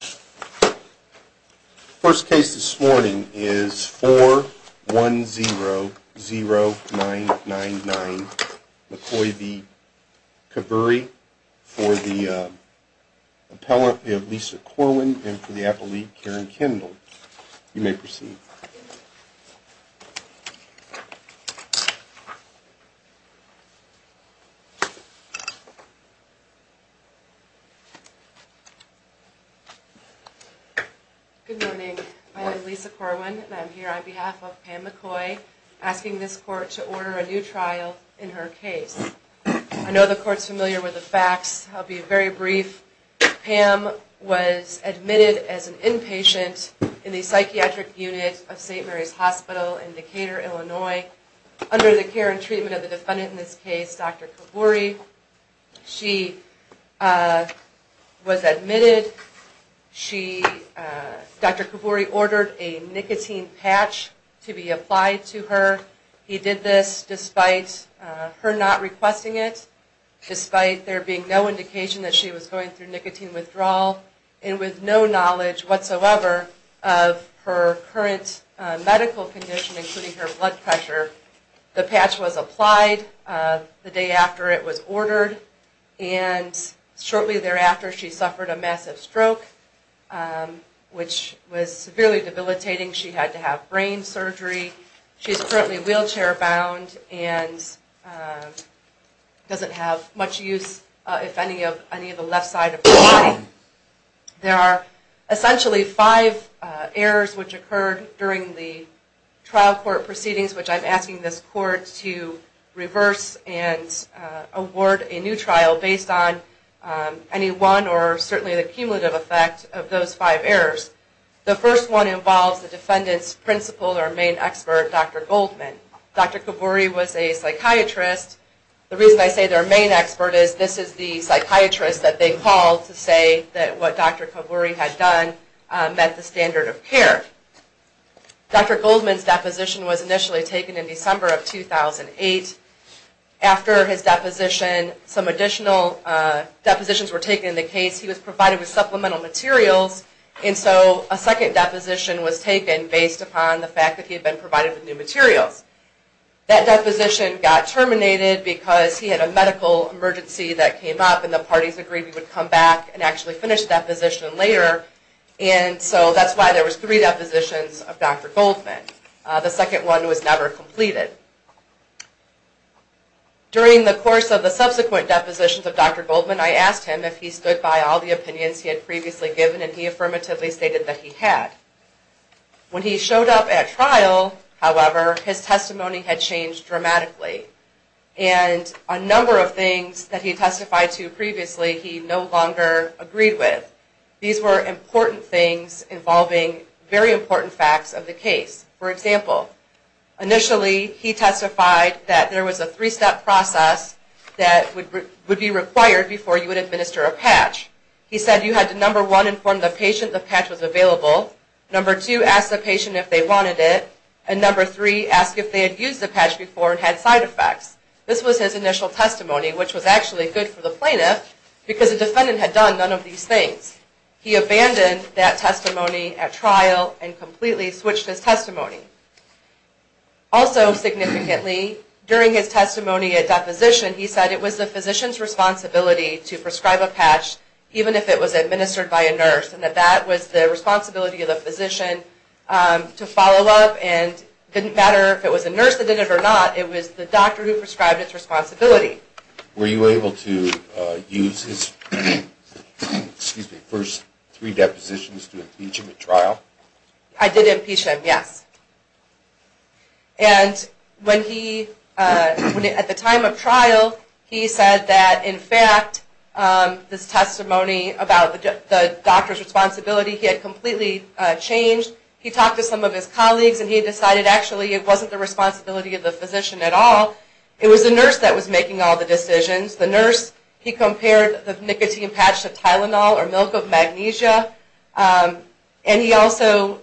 The first case this morning is 4100999 McCoy v. Kavuri for the appellant Lisa Corwin and for the appellate Karen Kendall. You may proceed. Good morning. My name is Lisa Corwin and I'm here on behalf of Pam McCoy asking this court to order a new trial in her case. I know the court's familiar with the facts. I'll be very brief. Pam was admitted as an inpatient in the psychiatric unit of St. Mary's Hospital in Decatur, Illinois. Under the care and treatment of the defendant in this case, Dr. Kavuri, she was admitted. Dr. Kavuri ordered a nicotine patch to be applied to her. He did this despite her not requesting it, despite there being no indication that she was going through nicotine withdrawal, and with no knowledge whatsoever of her current medical condition, including her blood pressure. The patch was applied the day after it was ordered, and shortly thereafter she suffered a massive stroke, which was severely debilitating. She had to have brain surgery. She's currently wheelchair bound and doesn't have much use, if any, of the left side of her body. There are essentially five errors which occurred during the trial court proceedings, which I'm asking this court to reverse and award a new trial based on any one or certainly the cumulative effect of those five errors. The first one involves the defendant's principal or main expert, Dr. Goldman. Dr. Kavuri was a psychiatrist. The reason I say their main expert is this is the psychiatrist that they called to say that what Dr. Kavuri had done met the standard of care. Dr. Goldman's deposition was initially taken in December of 2008. After his deposition, some additional depositions were taken in the case. He was provided with supplemental materials, and so a second deposition was taken based upon the fact that he had been provided with new materials. That deposition got terminated because he had a medical emergency that came up, and the parties agreed we would come back and actually finish the deposition later, and so that's why there were three depositions of Dr. Goldman. The second one was never completed. During the course of the subsequent depositions of Dr. Goldman, I asked him if he stood by all the opinions he had previously given, and he affirmatively stated that he had. When he showed up at trial, however, his testimony had changed dramatically, and a number of things that he testified to previously he no longer agreed with. These were important things involving very important facts of the case. For example, initially he testified that there was a three-step process that would be required before you would administer a patch. He said you had to, number one, inform the patient the patch was available, number two, ask the patient if they wanted it, and number three, ask if they had used the patch before and had side effects. This was his initial testimony, which was actually good for the plaintiff because the defendant had done none of these things. He abandoned that testimony at trial and completely switched his testimony. Also, significantly, during his testimony at deposition, he said it was the physician's responsibility to prescribe a patch, even if it was administered by a nurse, and that that was the responsibility of the physician to follow up, and it didn't matter if it was a nurse that did it or not, it was the doctor who prescribed its responsibility. Were you able to use his first three depositions to impeach him at trial? I did impeach him, yes. And at the time of trial, he said that, in fact, this testimony about the doctor's responsibility, he had completely changed. He talked to some of his colleagues and he decided, actually, it wasn't the responsibility of the physician at all, it was the nurse that was making all the decisions. The nurse, he compared the nicotine patch to Tylenol or milk of magnesia. And he also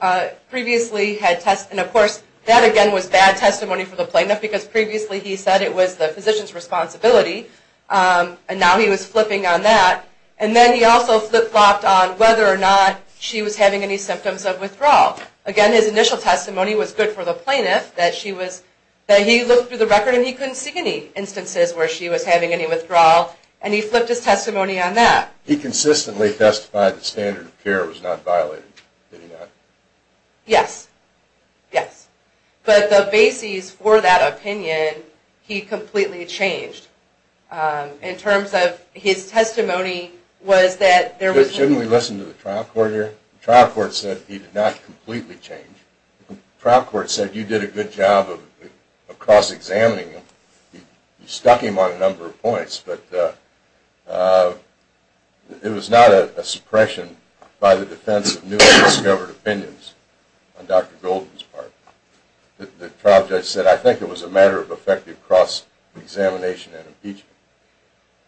previously had tested, and of course, that again was bad testimony for the plaintiff because previously he said it was the physician's responsibility, and now he was flipping on that. And then he also flip-flopped on whether or not she was having any symptoms of withdrawal. Again, his initial testimony was good for the plaintiff, that he looked through the record and he couldn't see any instances where she was having any withdrawal, and he flipped his testimony on that. He consistently testified that standard of care was not violated, did he not? Yes, yes. But the bases for that opinion, he completely changed. In terms of his testimony was that there was... The trial court said you did a good job of cross-examining him. You stuck him on a number of points, but it was not a suppression by the defense of newly discovered opinions on Dr. Golden's part. The trial judge said, I think it was a matter of effective cross-examination and impeachment.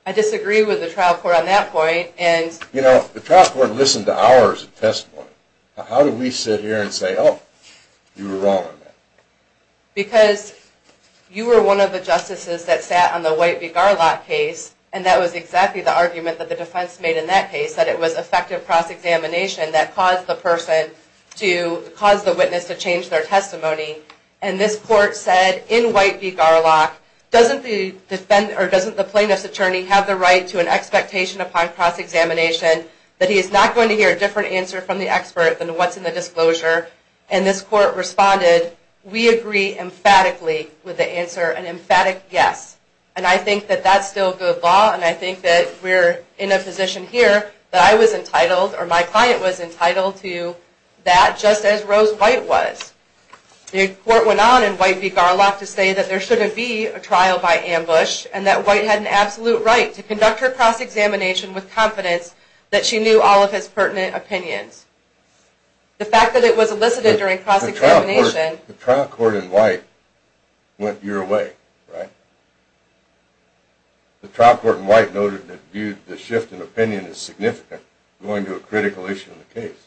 I disagree with the trial court on that point, and... The trial court listened to hours of testimony. How do we sit here and say, oh, you were wrong on that? Because you were one of the justices that sat on the White v. Garlock case, and that was exactly the argument that the defense made in that case, that it was effective cross-examination that caused the witness to change their testimony. And this court said, in White v. Garlock, doesn't the plaintiff's attorney have the right to an expectation upon cross-examination that he is not going to hear a different answer from the expert than what's in the disclosure? And this court responded, we agree emphatically with the answer, an emphatic yes. And I think that that's still good law, and I think that we're in a position here that I was entitled, or my client was entitled to that, just as Rose White was. The court went on in White v. Garlock to say that there shouldn't be a trial by ambush, and that White had an absolute right to conduct her cross-examination with confidence that she knew all of his pertinent opinions. The fact that it was elicited during cross-examination... The trial court in White went your way, right? The trial court in White noted that the shift in opinion is significant, going to a critical issue in the case.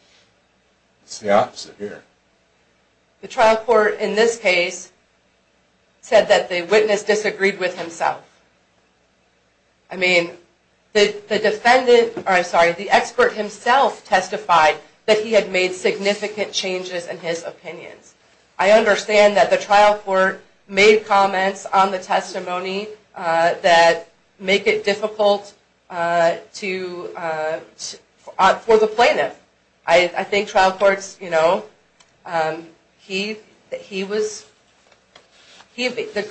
It's the opposite here. The trial court in this case said that the witness disagreed with himself. I mean, the expert himself testified that he had made significant changes in his opinions. I understand that the trial court made comments on the testimony that make it difficult for the plaintiff. The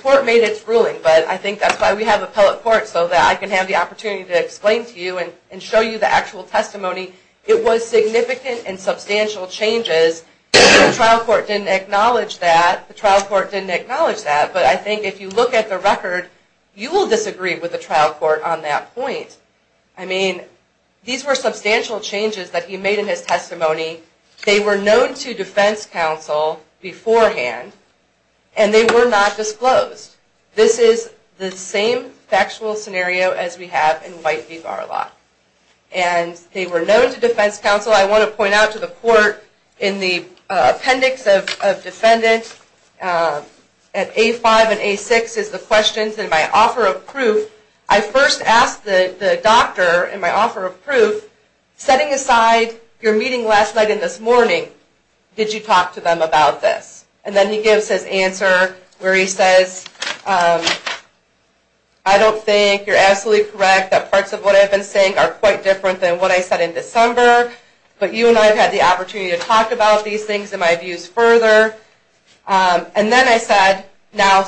court made its ruling, but I think that's why we have appellate courts, so that I can have the opportunity to explain to you and show you the actual testimony. It was significant and substantial changes. The trial court didn't acknowledge that. The trial court didn't acknowledge that, but I think if you look at the record, you will disagree with the trial court on that point. I mean, these were substantial changes that he made in his testimony. They were known to defense counsel beforehand, and they were not disclosed. This is the same factual scenario as we have in White v. Barlock. And they were known to defense counsel. Also, I want to point out to the court in the appendix of defendants at A5 and A6 is the questions in my offer of proof. I first asked the doctor in my offer of proof, setting aside your meeting last night and this morning, did you talk to them about this? And then he gives his answer where he says, I don't think you're absolutely correct that parts of what I've been saying are quite different than what I said in December, but you and I have had the opportunity to talk about these things and my views further. And then I said, now,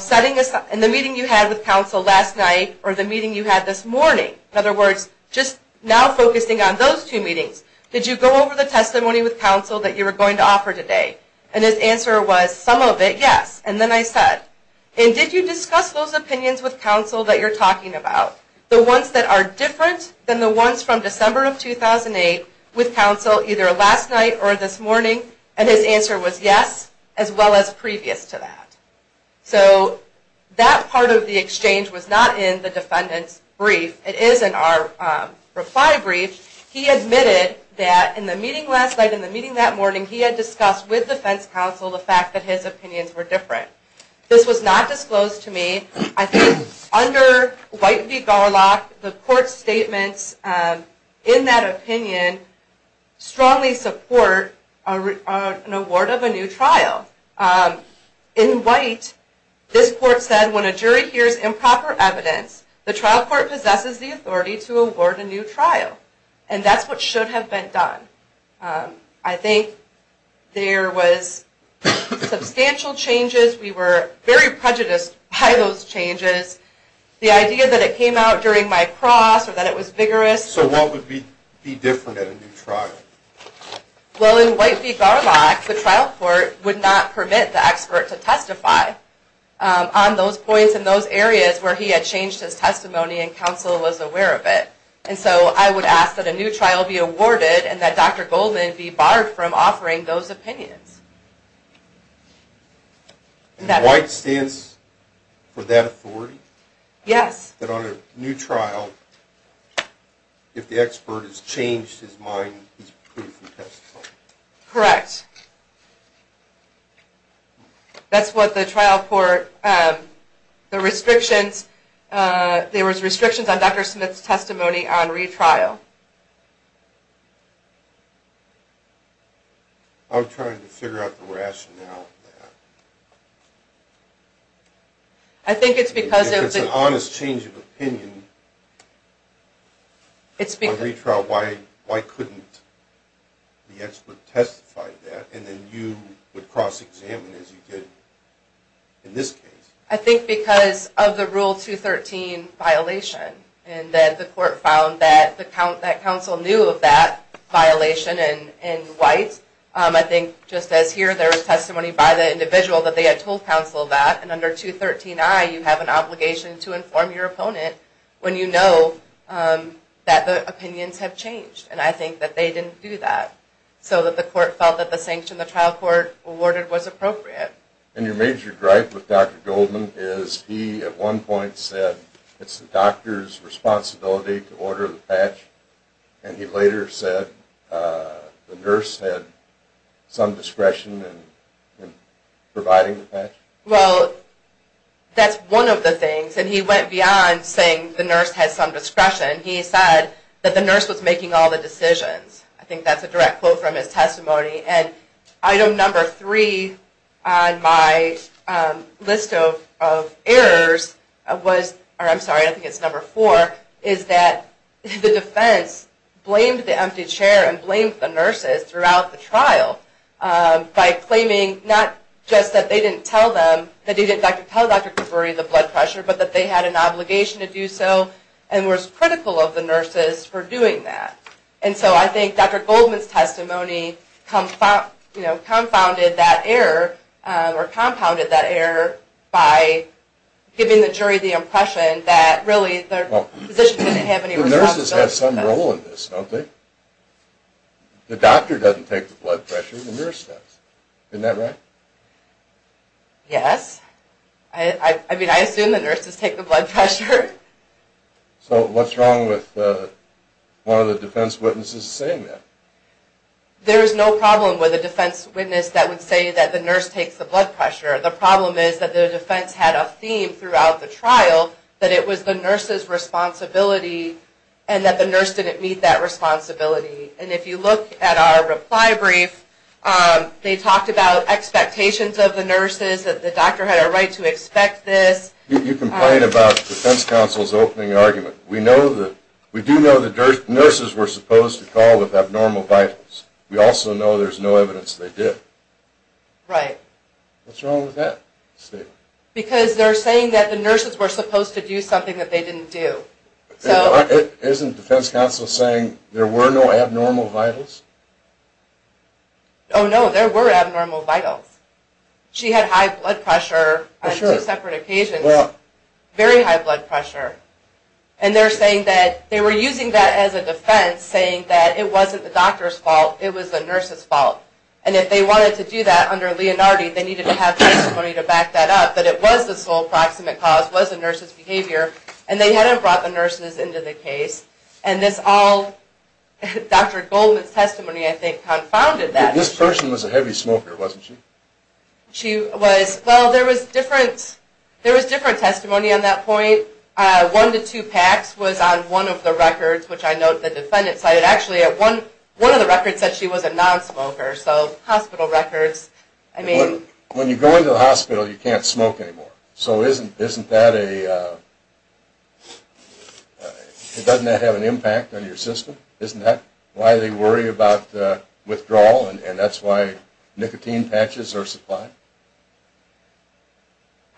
in the meeting you had with counsel last night or the meeting you had this morning, in other words, just now focusing on those two meetings, did you go over the testimony with counsel that you were going to offer today? And his answer was, some of it, yes. And then I said, and did you discuss those opinions with counsel that you're talking about, the ones that are different than the ones from December of 2008, with counsel either last night or this morning? And his answer was, yes, as well as previous to that. So that part of the exchange was not in the defendant's brief. It is in our reply brief. He admitted that in the meeting last night and the meeting that morning, he had discussed with defense counsel the fact that his opinions were different. This was not disclosed to me. I think under White v. Garlock, the court's statements in that opinion strongly support an award of a new trial. In White, this court said, when a jury hears improper evidence, the trial court possesses the authority to award a new trial. And that's what should have been done. I think there was substantial changes. We were very prejudiced by those changes. The idea that it came out during my cross or that it was vigorous. So what would be different at a new trial? Well, in White v. Garlock, the trial court would not permit the expert to testify on those points and those areas where he had changed his testimony and counsel was aware of it. And so I would ask that a new trial be awarded and that Dr. Goldman be barred from offering those opinions. White stands for that authority? Yes. That on a new trial, if the expert has changed his mind, he's free from testimony. Correct. That's what the trial court, the restrictions, there was restrictions on Dr. Smith's testimony on retrial. I'm trying to figure out the rationale for that. I think it's because of the... If it's an honest change of opinion on retrial, why couldn't the expert testify to that and then you would cross-examine as you did in this case? I think because of the Rule 213 violation and that the court found that counsel knew of that violation in White. I think just as here there was testimony by the individual that they had told counsel that, and under 213i you have an obligation to inform your opponent when you know that the opinions have changed, and I think that they didn't do that so that the court felt that the sanction the trial court awarded was appropriate. And your major gripe with Dr. Goldman is he, at one point, said it's the doctor's responsibility to order the patch, and he later said the nurse had some discretion in providing the patch? Well, that's one of the things, and he went beyond saying the nurse had some discretion. He said that the nurse was making all the decisions. I think that's a direct quote from his testimony. Item number three on my list of errors, or I'm sorry, I think it's number four, is that the defense blamed the empty chair and blamed the nurses throughout the trial by claiming not just that they didn't tell Dr. Caburi the blood pressure, but that they had an obligation to do so and was critical of the nurses for doing that. And so I think Dr. Goldman's testimony confounded that error or compounded that error by giving the jury the impression that really the physician didn't have any responsibility. The nurses have some role in this, don't they? The doctor doesn't take the blood pressure, the nurse does. Isn't that right? Yes. I mean, I assume the nurses take the blood pressure. So what's wrong with one of the defense witnesses saying that? There is no problem with a defense witness that would say that the nurse takes the blood pressure. The problem is that the defense had a theme throughout the trial that it was the nurse's responsibility and that the nurse didn't meet that responsibility. And if you look at our reply brief, they talked about expectations of the nurses, that the doctor had a right to expect this. You complain about the defense counsel's opening argument. We do know that nurses were supposed to call with abnormal vitals. We also know there's no evidence they did. Right. What's wrong with that statement? Because they're saying that the nurses were supposed to do something that they didn't do. Isn't the defense counsel saying there were no abnormal vitals? Oh, no, there were abnormal vitals. She had high blood pressure on two separate occasions. Very high blood pressure. And they're saying that they were using that as a defense, saying that it wasn't the doctor's fault. It was the nurse's fault. And if they wanted to do that under Leonardi, they needed to have testimony to back that up, that it was the sole proximate cause, was the nurse's behavior, and they hadn't brought the nurses into the case. And this all, Dr. Goldman's testimony, I think, confounded that. This person was a heavy smoker, wasn't she? She was. Well, there was different testimony on that point. One to two packs was on one of the records, which I note the defendant cited. Actually, one of the records said she was a nonsmoker, so hospital records. When you go into the hospital, you can't smoke anymore. So isn't that a... Doesn't that have an impact on your system? Isn't that why they worry about withdrawal, and that's why nicotine patches are supplied?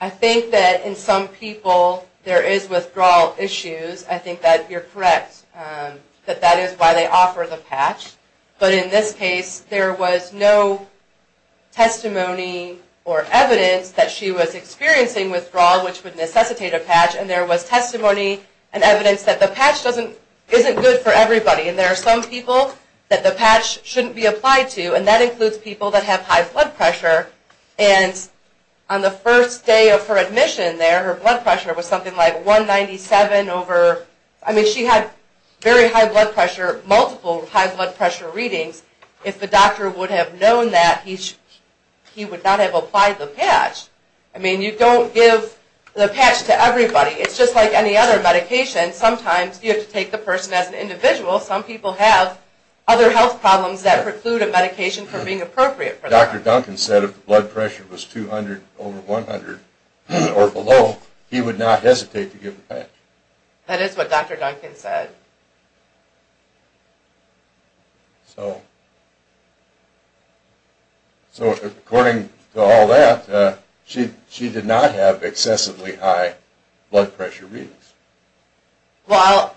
I think that in some people there is withdrawal issues. I think that you're correct, that that is why they offer the patch. But in this case, there was no testimony or evidence that she was experiencing withdrawal, which would necessitate a patch. And there was testimony and evidence that the patch isn't good for everybody. And there are some people that the patch shouldn't be applied to, and that includes people that have high blood pressure. And on the first day of her admission there, her blood pressure was something like 197 over... I mean, she had very high blood pressure, multiple high blood pressure readings. If the doctor would have known that, he would not have applied the patch. I mean, you don't give the patch to everybody. It's just like any other medication. Sometimes you have to take the person as an individual. Some people have other health problems that preclude a medication from being appropriate for them. Dr. Duncan said if the blood pressure was 200 over 100 or below, he would not hesitate to give the patch. That is what Dr. Duncan said. So according to all that, she did not have excessively high blood pressure readings. Well,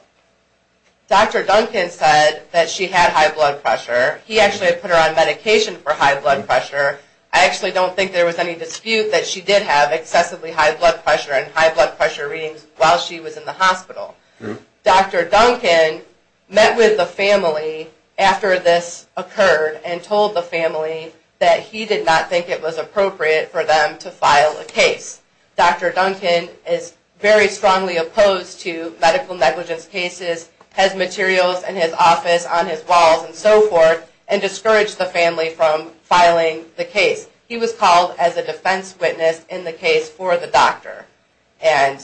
Dr. Duncan said that she had high blood pressure. He actually put her on medication for high blood pressure. I actually don't think there was any dispute that she did have excessively high blood pressure and high blood pressure readings while she was in the hospital. Dr. Duncan met with the family after this occurred and told the family that he did not think it was appropriate for them to file a case. Dr. Duncan is very strongly opposed to medical negligence cases, has materials in his office on his walls and so forth, and discouraged the family from filing the case. He was called as a defense witness in the case for the doctor. And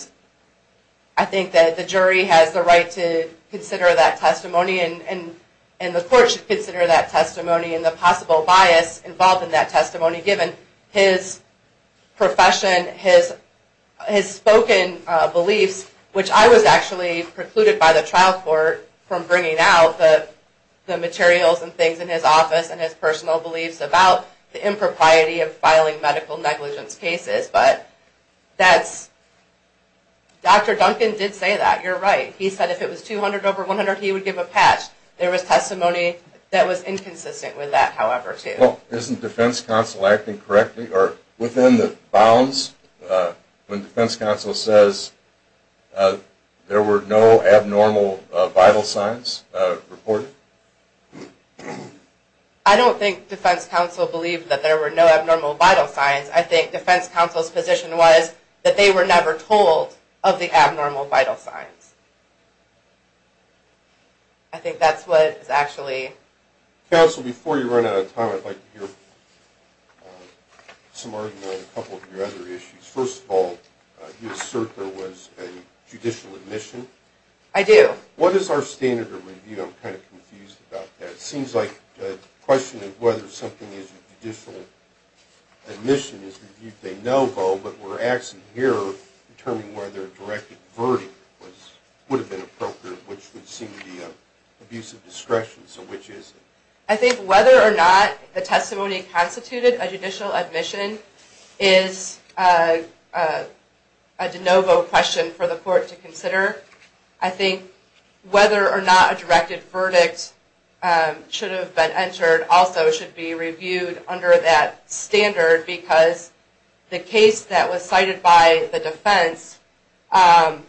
I think that the jury has the right to consider that testimony and the court should consider that testimony and the possible bias involved in that testimony given his profession, his spoken beliefs, which I was actually precluded by the trial court from bringing out the materials and things in his office and his personal beliefs about the impropriety of filing medical negligence cases. But Dr. Duncan did say that. You're right. He said if it was 200 over 100, he would give a patch. There was testimony that was inconsistent with that, however, too. Well, isn't defense counsel acting correctly or within the bounds when defense counsel says there were no abnormal vital signs reported? I don't think defense counsel believed that there were no abnormal vital signs. I think defense counsel's position was that they were never told of the abnormal vital signs. I think that's what is actually… Counsel, before you run out of time, I'd like to hear some arguments on a couple of your other issues. First of all, you assert there was a judicial admission. I do. What is our standard of review? I'm kind of confused about that. It seems like the question of whether something is a judicial admission is reviewed by no vote, but we're asking here to determine whether a directed verdict would have been appropriate, which would seem to be an abuse of discretion, so which is it? I think whether or not the testimony constituted a judicial admission is a de novo question for the court to consider. I think whether or not a directed verdict should have been entered also should be reviewed under that standard because the case that was cited by the defense, the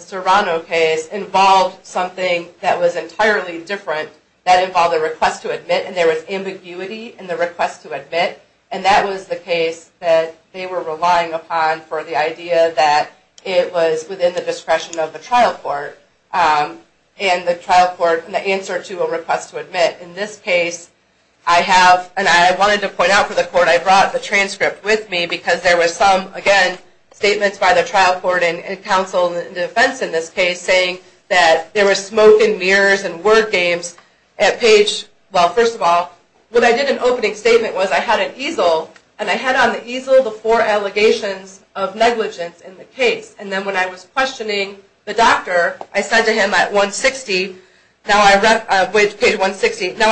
Serrano case, involved something that was entirely different. That involved a request to admit, and there was ambiguity in the request to admit, and that was the case that they were relying upon for the idea that it was within the discretion of the trial court, and the trial court, and the answer to a request to admit. In this case, I have, and I wanted to point out for the court, I brought the transcript with me because there was some, again, statements by the trial court and counsel and defense in this case saying that there was smoke and mirrors and word games at page, well, first of all, what I did in opening statement was I had an easel, and I had on the easel the four allegations of negligence in the case, and then when I was questioning the doctor, I said to him at 160, now I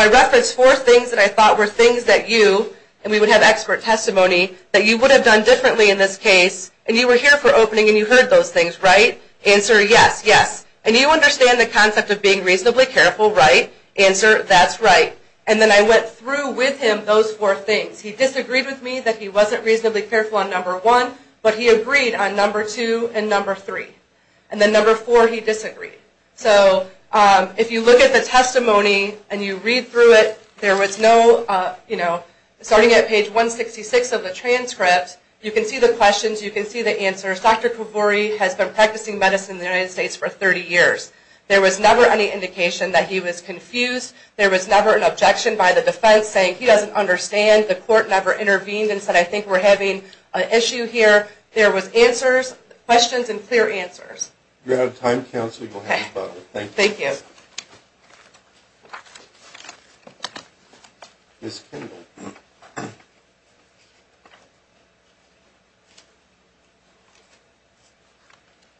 referenced four things that I thought were things that you, and we would have expert testimony, that you would have done differently in this case, and you were here for opening, and you heard those things, right? Answer, yes, yes, and you understand the concept of being reasonably careful, right? Answer, that's right, and then I went through with him those four things. He disagreed with me that he wasn't reasonably careful on number one, but he agreed on number two and number three, and then number four he disagreed. So if you look at the testimony and you read through it, there was no, you know, starting at page 166 of the transcript, you can see the questions, you can see the answers. Dr. Kivori has been practicing medicine in the United States for 30 years. There was never any indication that he was confused. There was never an objection by the defense saying he doesn't understand, the court never intervened and said I think we're having an issue here. There was answers, questions, and clear answers. You're out of time, counsel, you'll have to vote. Thank you. Ms. Kendall.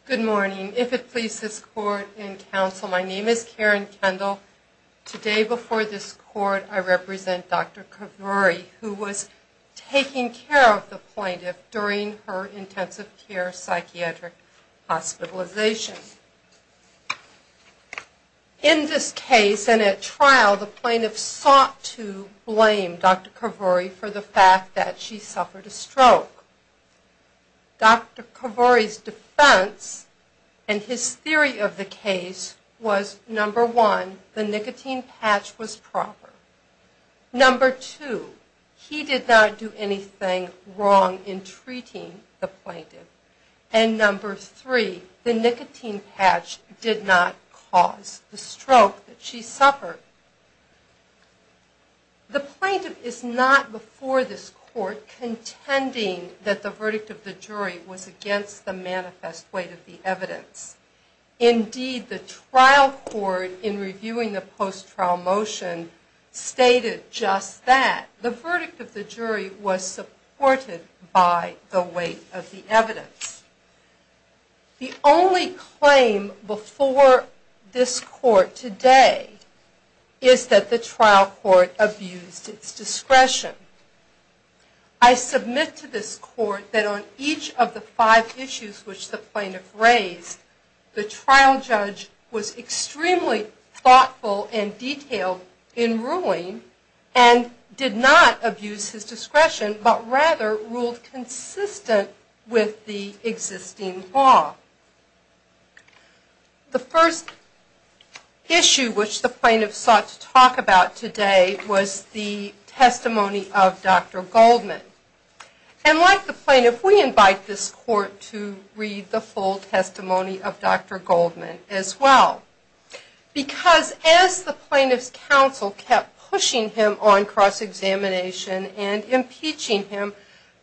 Good morning. If it pleases court and counsel, my name is Karen Kendall. Today before this court I represent Dr. Kivori, who was taking care of the plaintiff during her intensive care psychiatric hospitalization. In this case and at trial, the plaintiff sought to blame Dr. Kivori for the fact that she suffered a stroke. Dr. Kivori's defense and his theory of the case was number one, the nicotine patch was proper. Number two, he did not do anything wrong in treating the plaintiff. And number three, the nicotine patch did not cause the stroke that she suffered. The plaintiff is not before this court contending that the verdict of the jury was against the manifest weight of the evidence. Indeed, the trial court in reviewing the post-trial motion stated just that. The verdict of the jury was supported by the weight of the evidence. The only claim before this court today is that the trial court abused its discretion. I submit to this court that on each of the five issues which the plaintiff raised, the trial judge was extremely thoughtful and detailed in ruling and did not abuse his discretion, but rather ruled consistent with the existing law. The first issue which the plaintiff sought to talk about today was the testimony of Dr. Goldman. And like the plaintiff, we invite this court to read the full testimony of Dr. Goldman as well. Because as the plaintiff's counsel kept pushing him on cross-examination and impeaching him,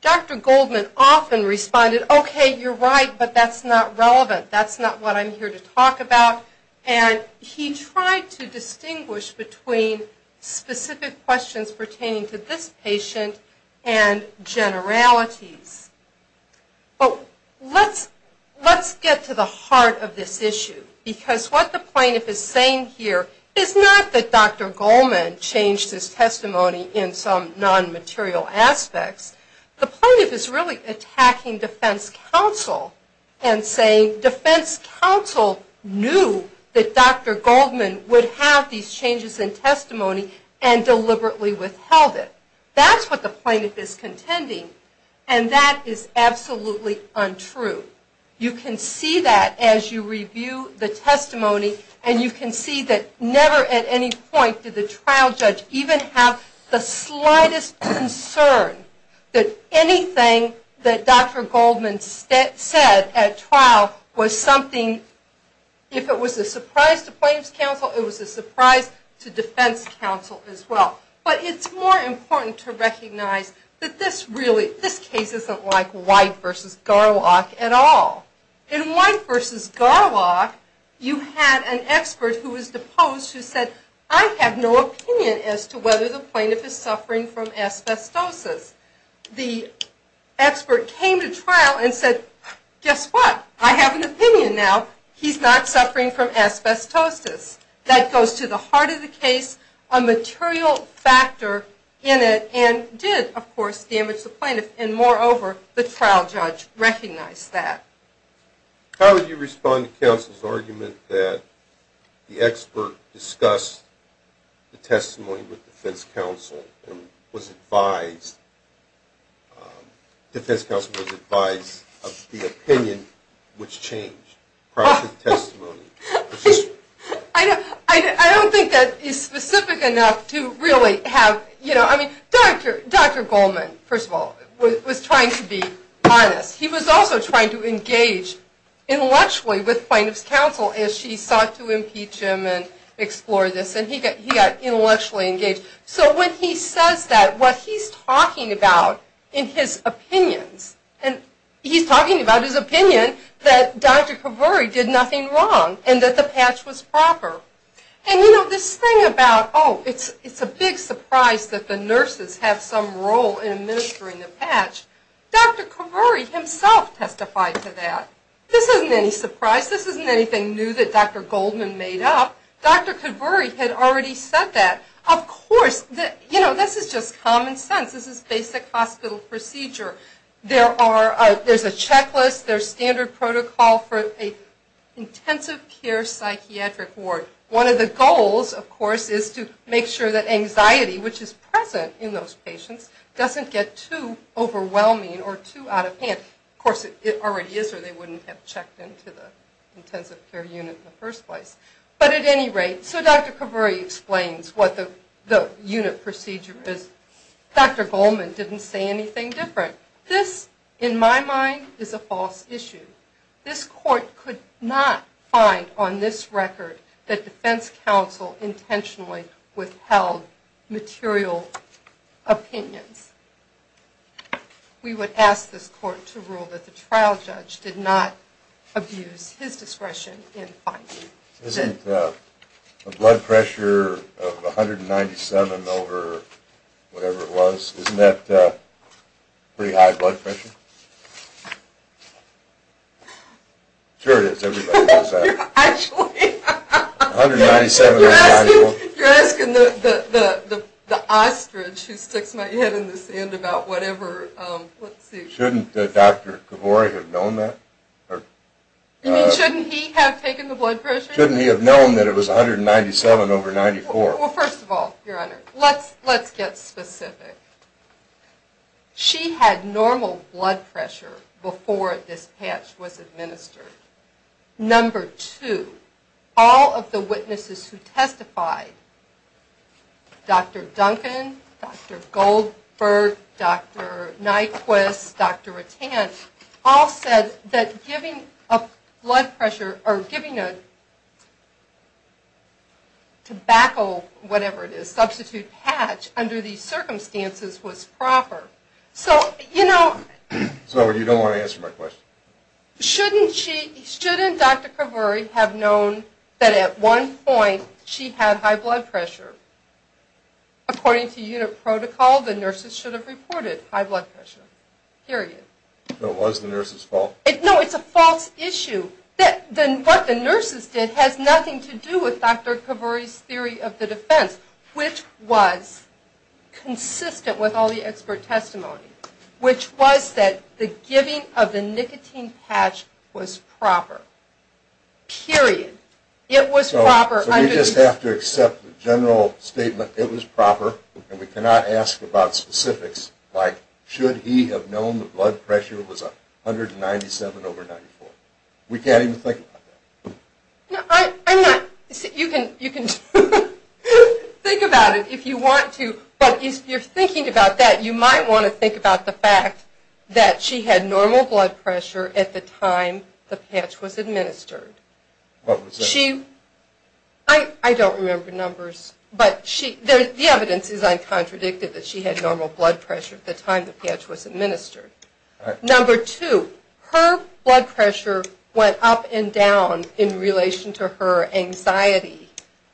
Dr. Goldman often responded, okay, you're right, but that's not relevant. That's not what I'm here to talk about. And he tried to distinguish between specific questions pertaining to this patient and generalities. But let's get to the heart of this issue. Because what the plaintiff is saying here is not that Dr. Goldman changed his testimony in some non-material aspects. The plaintiff is really attacking defense counsel and saying defense counsel knew that Dr. Goldman would have these changes in testimony and deliberately withheld it. That's what the plaintiff is contending. And that is absolutely untrue. You can see that as you review the testimony and you can see that never at any point did the trial judge even have the slightest concern that anything that Dr. Goldman said at trial was something if it was a surprise to plaintiff's counsel, it was a surprise to defense counsel as well. But it's more important to recognize that this really, this case isn't like White v. Garlock at all. In White v. Garlock you had an expert who was deposed who said, I have no opinion as to whether the plaintiff is suffering from asbestosis. The expert came to trial and said, guess what? I have an opinion now. He's not suffering from asbestosis. That goes to the heart of the case. A material factor in it and did of course damage the plaintiff and moreover the trial judge recognized that. How would you respond to counsel's argument that the expert discussed the testimony with defense counsel and was advised, defense counsel was advised of the opinion which changed prior to the testimony? I don't think that is specific enough to really have, you know, I mean, Dr. Goldman, first of all, was trying to be honest. He was also trying to engage intellectually with plaintiff's counsel as she sought to impeach him and explore this and he got intellectually engaged. So when he says that, what he's talking about in his opinions, and he's talking about his opinion that Dr. Kaveri did nothing wrong and that the patch was a big surprise that the nurses have some role in administering the patch, Dr. Kaveri himself testified to that. This isn't any surprise. This isn't anything new that Dr. Goldman made up. Dr. Kaveri had already said that. Of course, you know, this is just common sense. This is basic hospital procedure. There are, there's a checklist, there's standard protocol for an intensive care psychiatric ward. One of the goals, of course, is to make sure that anxiety which is present in those patients doesn't get too overwhelming or too out of hand. Of course, it already is or they wouldn't have checked into the intensive care unit in the first place. But at any rate, so Dr. Kaveri explains what the unit procedure is. Dr. Goldman didn't say anything different. This, in my mind, is a false issue. This court could not find on this record that defense counsel intentionally withheld material opinions. We would ask this court to rule that the trial judge did not abuse his discretion in finding this. Isn't the blood pressure of 197 over whatever it was, isn't that pretty high blood pressure? Sure it is. You're asking the ostrich who sticks my head in the sand about whatever, let's see. Shouldn't Dr. Kaveri have known that? You mean, shouldn't he have taken the blood pressure? Shouldn't he have known that it was 197 over 94? Well, first of all, your honor, let's get specific. She had normal blood pressure before this patch was administered. Number two, all of the witnesses who testified, Dr. Duncan, Dr. Goldberg, Dr. Nyquist, Dr. Ratan, all said that giving a blood pressure or giving a tobacco, whatever it is, substitute patch under these circumstances was proper. So you don't want to answer my question. Shouldn't Dr. Kaveri have known that at one point she had high blood pressure? According to unit protocol, the nurses should have reported high blood pressure, period. So it was the nurses' fault? No, it's a false issue. What the nurses did has nothing to do with Dr. Kaveri's theory of the defense, which was consistent with all the expert testimony, which was that the giving of the nicotine patch was proper, period. It was proper. So we just have to accept the general statement, it was proper, and we cannot ask about specifics like should he have known the blood pressure was 197 over 94? We can't even think about that. You can think about it if you want to, but if you're thinking about that, you might want to think about the fact that she had normal blood pressure at the time the patch was administered. I don't remember numbers, but the evidence is uncontradicted that she had normal blood pressure at the time the patch was administered. Number two, her blood pressure went up and down in relation to her anxiety,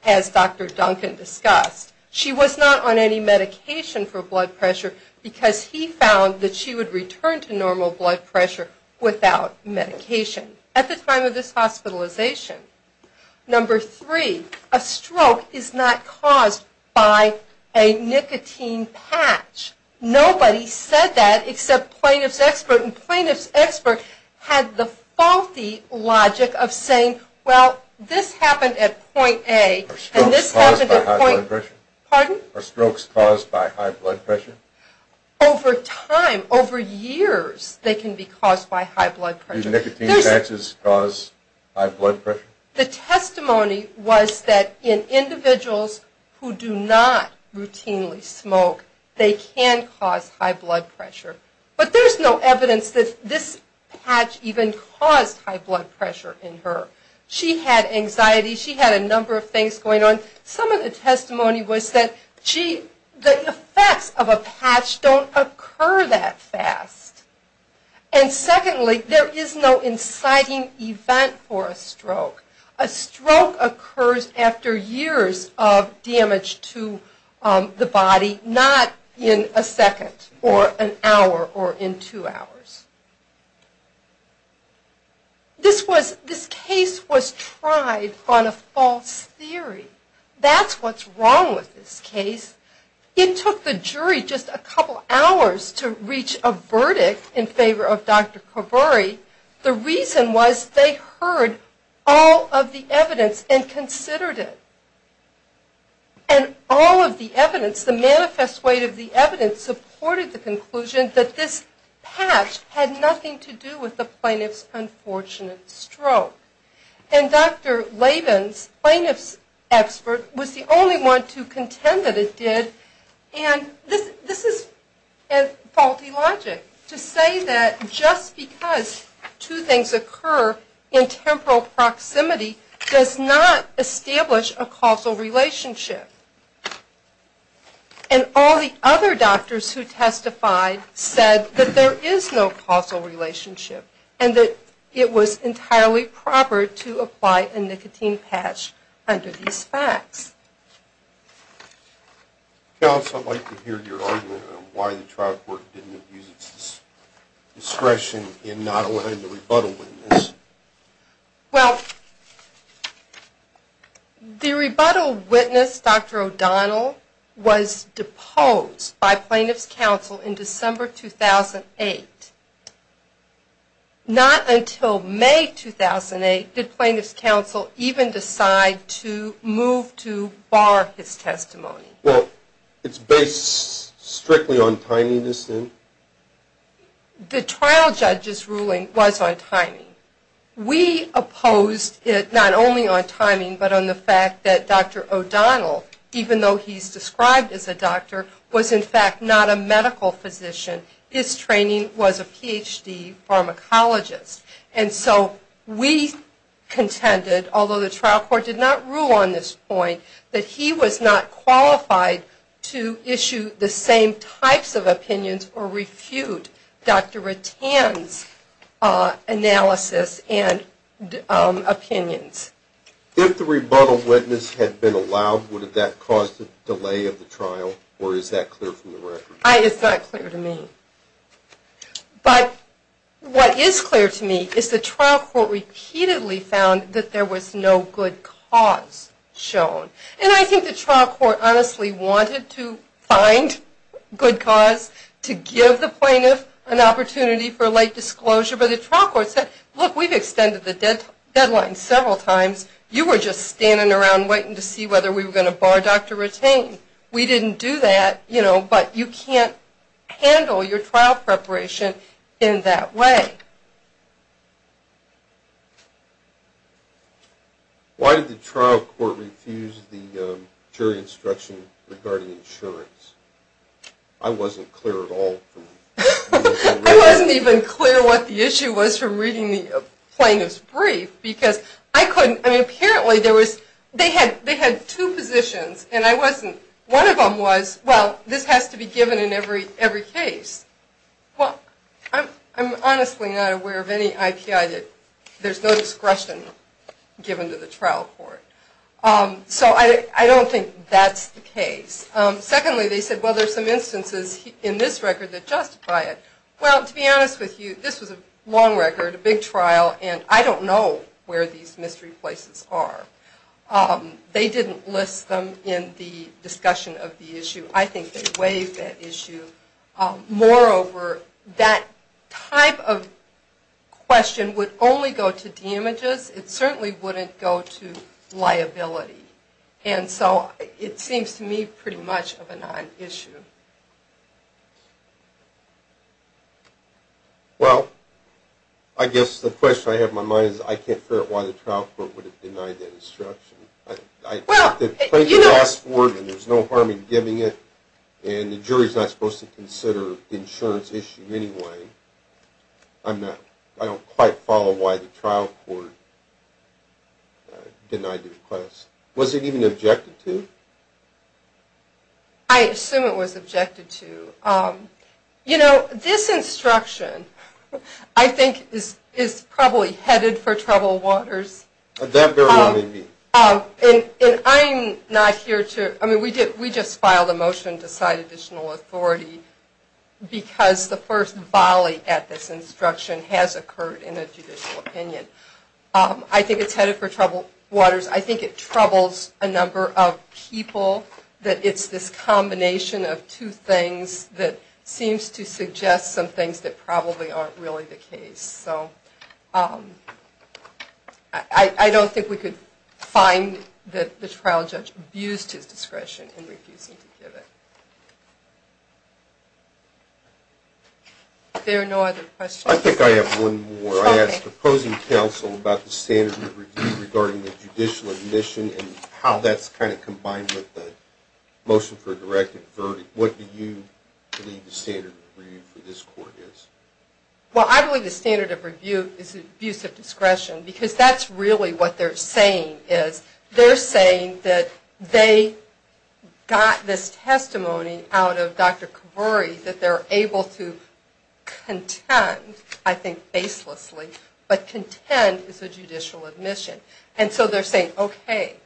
as Dr. Duncan discussed. She was not on any medication for blood pressure because he found that she would return to normal blood pressure without medication at the time of this hospitalization. Number three, a stroke is not caused by a nicotine patch. Nobody said that except plaintiff's expert, and plaintiff's healthy logic of saying, well, this happened at point A, and this happened at point B. Pardon? Are strokes caused by high blood pressure? Over time, over years, they can be caused by high blood pressure. Do nicotine patches cause high blood pressure? The testimony was that in individuals who do not routinely smoke, they can cause high blood pressure, but there's no evidence that this patch even caused high blood pressure in her. She had anxiety. She had a number of things going on. Some of the testimony was that the effects of a patch don't occur that fast. And secondly, there is no inciting event for a stroke. A stroke occurs after years of damage to the body, not in a second or an hour or in two hours. This case was tried on a false theory. That's what's wrong with this case. It took the jury just a couple hours to reach a verdict in favor of Dr. Kovari. The reason was they heard all of the evidence and considered it. And all of the evidence, the manifest weight of the evidence, supported the conclusion that this patch had nothing to do with the plaintiff's unfortunate stroke. And Dr. Laven's plaintiff's expert was the only one to contend that it did. And this is faulty logic to say that just because two things occur in temporal proximity does not establish a causal relationship. And all the other doctors who testified said that there is no causal relationship and that it was entirely proper to apply a nicotine patch under these facts. Counsel, I'd like to hear your argument on why the trial court didn't use its discretion in not allowing the rebuttal witness. Well, the rebuttal witness, Dr. O'Donnell, was deposed by plaintiff's counsel in December 2008. Not until May 2008 did plaintiff's counsel even decide to move to bar his testimony. Well, it's based strictly on timing, isn't it? The trial judge's ruling was on timing. We opposed it not only on timing but on the fact that Dr. O'Donnell, even though he's described as a doctor, was in fact not a medical physician. His training was a Ph.D. pharmacologist. And so we contended, although the trial court did not rule on this point, that he was not qualified to issue the same types of opinions or refute Dr. Rattan's analysis and opinions. If the rebuttal witness had been allowed, would that have caused a delay of the trial? Or is that clear from the record? It's not clear to me. But what is clear to me is the trial court repeatedly found that there was no good cause shown. And I think the trial court honestly wanted to find good cause to give the plaintiff an exclosure. But the trial court said, look, we've extended the deadline several times. You were just standing around waiting to see whether we were going to bar Dr. Rattan. We didn't do that. But you can't handle your trial preparation in that way. Why did the trial court refuse the jury instruction regarding insurance? I wasn't clear at all. I wasn't even clear what the issue was from reading the plaintiff's brief. They had two positions. One of them was, well, this has to be given in every case. Well, I'm honestly not aware of any IPI that there's no discretion given to the trial court. So I don't think that's the case. Secondly, they said, well, there's some instances in this record that justify it. Well, to be honest with you, this was a long record, a big trial, and I don't know where these mystery places are. They didn't list them in the discussion of the issue. I think they waived that issue. Moreover, that type of question would only go to damages. It certainly wouldn't go to liability. And so it seems to me pretty much of a non-issue. Well, I guess the question I have in my mind is I can't figure out why the trial court would have denied that instruction. The plaintiff asked for it, and there's no harm in giving it, and the jury's not supposed to consider the insurance issue anyway. I don't quite follow why the trial court denied the request. Was it even objected to? I assume it was objected to. You know, this instruction I think is probably headed for trouble waters. At that very moment, indeed. We just filed a motion to cite additional authority because the first volley at this instruction has occurred in a judicial opinion. I think it's headed for trouble waters. I think it troubles a number of people that it's this combination of two things that seems to suggest some things that probably aren't really the case. I don't think we could find that the trial judge abused his discretion in refusing to give it. If there are no other questions... I think I have one more. I asked the opposing counsel about the standard of review regarding the judicial admission and how that's kind of combined with the motion for a directed verdict. What do you believe the standard of review for this court is? Well, I believe the standard of review is abuse of discretion because that's really what they're saying is. They're saying that they got this testimony out of Dr. Kavouri that they're able to contend, I think, facelessly, but contend is a judicial admission. And so they're saying, okay,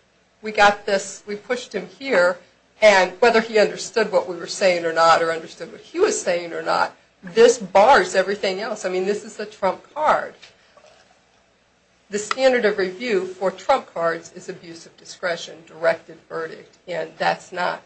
we got this, we pushed him here and whether he understood what we were saying or not or understood what he was saying or not, this bars everything else. I mean, this is the trump card. The standard of review for trump cards is abuse of discretion, directed verdict, and that's not...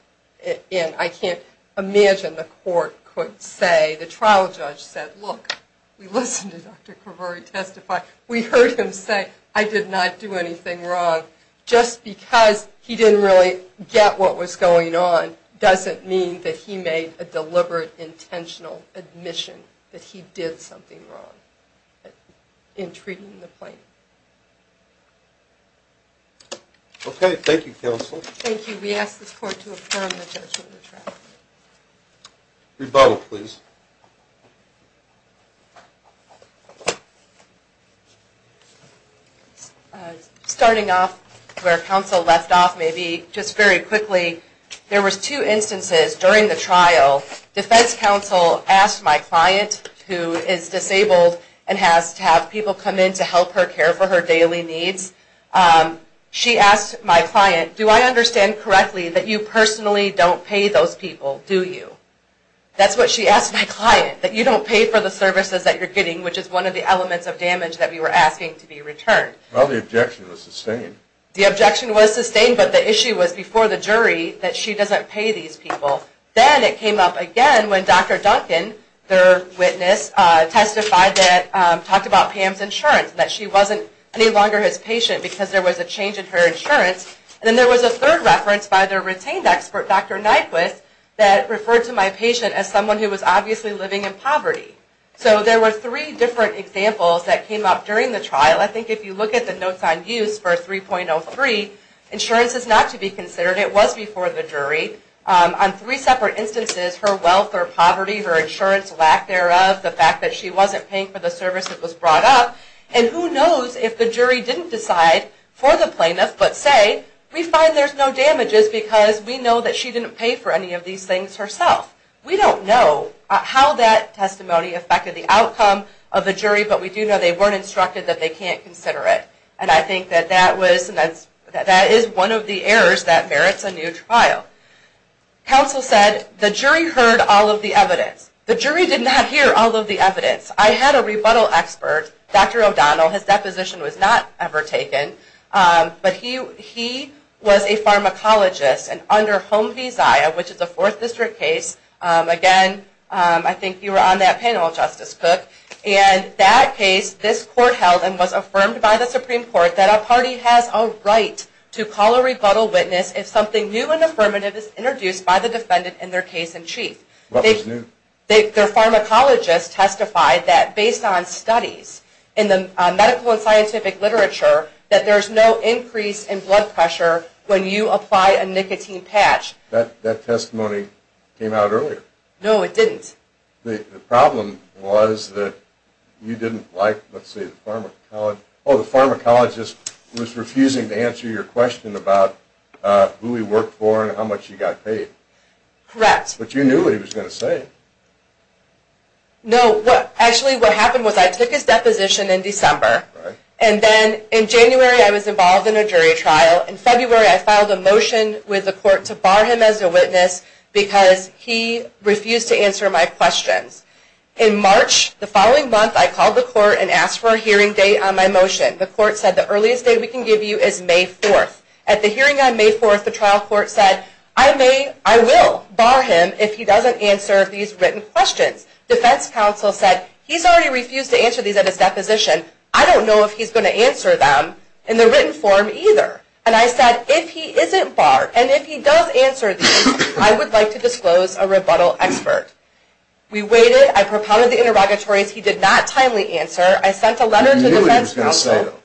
I can't imagine the court could say, the trial judge said, look, we listened to Dr. Kavouri testify, we heard him say I did not do anything wrong. Just because he didn't really get what was going on doesn't mean that he made a deliberate, intentional admission that he did something wrong in treating the plaintiff. Okay, thank you, counsel. Thank you. We ask this court to affirm the judgment of the trial. Rebuttal, please. Starting off where counsel left off, maybe just very quickly, there was two instances during the trial, defense counsel asked my client, who is disabled and has to have people come in to help her care for her daily needs, she asked my client, do I understand correctly that you personally don't pay those people, do you? That's what she asked my client, that you don't pay for the services that you're getting, which is one of the elements of damage that we were asking to be returned. Well, the objection was sustained. The objection was sustained, but the issue was before the jury that she doesn't pay these people. Then it came up again when Dr. Duncan, their witness, testified that, talked about Pam's insurance, that she wasn't any longer his patient because there was a change in her insurance. Then there was a third reference by their retained expert, Dr. Nyquist, that referred to my patient as someone who was obviously living in poverty. So there were three different examples that came up during the trial. I think if you look at the notes on use for 3.03, insurance is not to be considered, it was before the jury. On three separate instances, her wealth or poverty, her insurance lack thereof, the fact that she wasn't paying for the service that was brought up, and who knows if the jury didn't decide for the plaintiff but say, we find there's no damages because we know that she didn't pay for any of these things herself. We don't know how that testimony affected the outcome of the jury, but we do know they weren't instructed that they can't consider it. I think that that is one of the errors that merits a new trial. Counsel said the jury heard all of the evidence. The jury did not hear all of the evidence. I had a rebuttal expert, Dr. O'Donnell, his deposition was not ever taken, but he was a pharmacologist and under Home v. Zia, which is a Fourth District case, again, I think you were on that panel, Justice Cook, and that case, this court held and was affirmed by the Supreme Court that a party has a right to call a rebuttal witness if something new and their case in chief. Their pharmacologist testified that based on studies in the medical and scientific literature that there's no increase in blood pressure when you apply a nicotine patch. That testimony came out earlier. No, it didn't. The problem was that you didn't like, let's see, the pharmacologist was refusing to answer your question about who he worked for and how much he got paid. Correct. But you knew what he was going to say. No, actually what happened was I took his deposition in December, and then in January I was involved in a jury trial. In February I filed a motion with the court to bar him as a witness because he refused to answer my questions. In March, the following month, I called the court and asked for a hearing date on my motion. The court said the earliest date we can give you is May 4th. At the hearing on May 4th, the trial court said, I will bar him if he doesn't answer these written questions. Defense counsel said, he's already refused to answer these at his deposition. I don't know if he's going to answer them in the written form either. And I said, if he isn't barred and if he does answer these, I would like to disclose a rebuttal expert. We waited. I propounded the interrogatories. He did not timely answer. I sent a letter to the defense counsel. You knew what he was going to say though.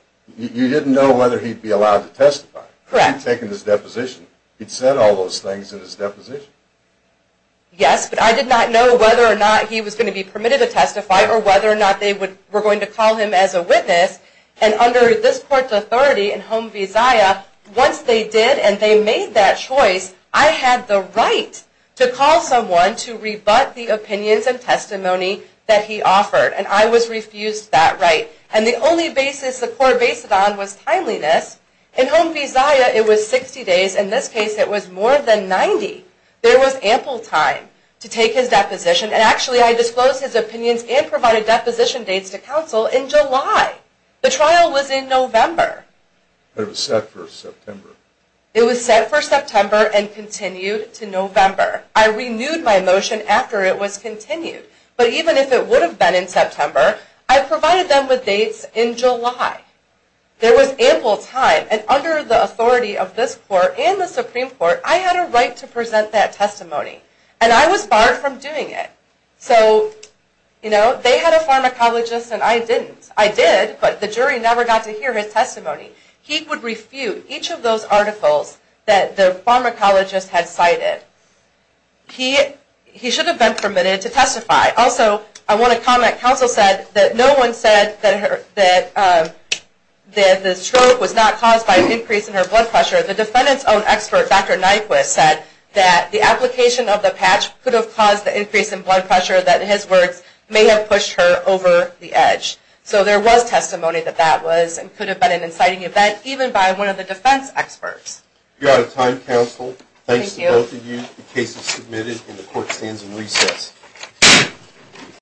You didn't know whether he'd be allowed to testify. Correct. He'd taken his deposition. He'd said all those things in his deposition. Yes, but I did not know whether or not he was going to be permitted to testify or whether or not they were going to call him as a witness. And under this court's authority in Home Visaia, once they did and they made that choice, I had the right to call someone to rebut the opinions and testimony that he offered. And I was refused that right. And the only basis on was timeliness. In Home Visaia, it was 60 days. In this case, it was more than 90. There was ample time to take his deposition. And actually, I disclosed his opinions and provided deposition dates to counsel in July. The trial was in November. It was set for September. It was set for September and continued to November. I renewed my motion after it was continued. But even if it would have been in September, I provided them with time. There was ample time. And under the authority of this court and the Supreme Court, I had a right to present that testimony. And I was barred from doing it. So, you know, they had a pharmacologist and I didn't. I did, but the jury never got to hear his testimony. He would refute each of those articles that the pharmacologist had cited. He should have been permitted to testify. Also, I want to comment. Counsel said that no one said that the stroke was not caused by an increase in her blood pressure. The defendant's own expert, Dr. Nyquist, said that the application of the patch could have caused the increase in blood pressure that, in his words, may have pushed her over the edge. So there was testimony that that was and could have been an inciting event, even by one of the defense experts. You're out of time, counsel. Thanks to both of you. The case is submitted and the court stands in recess.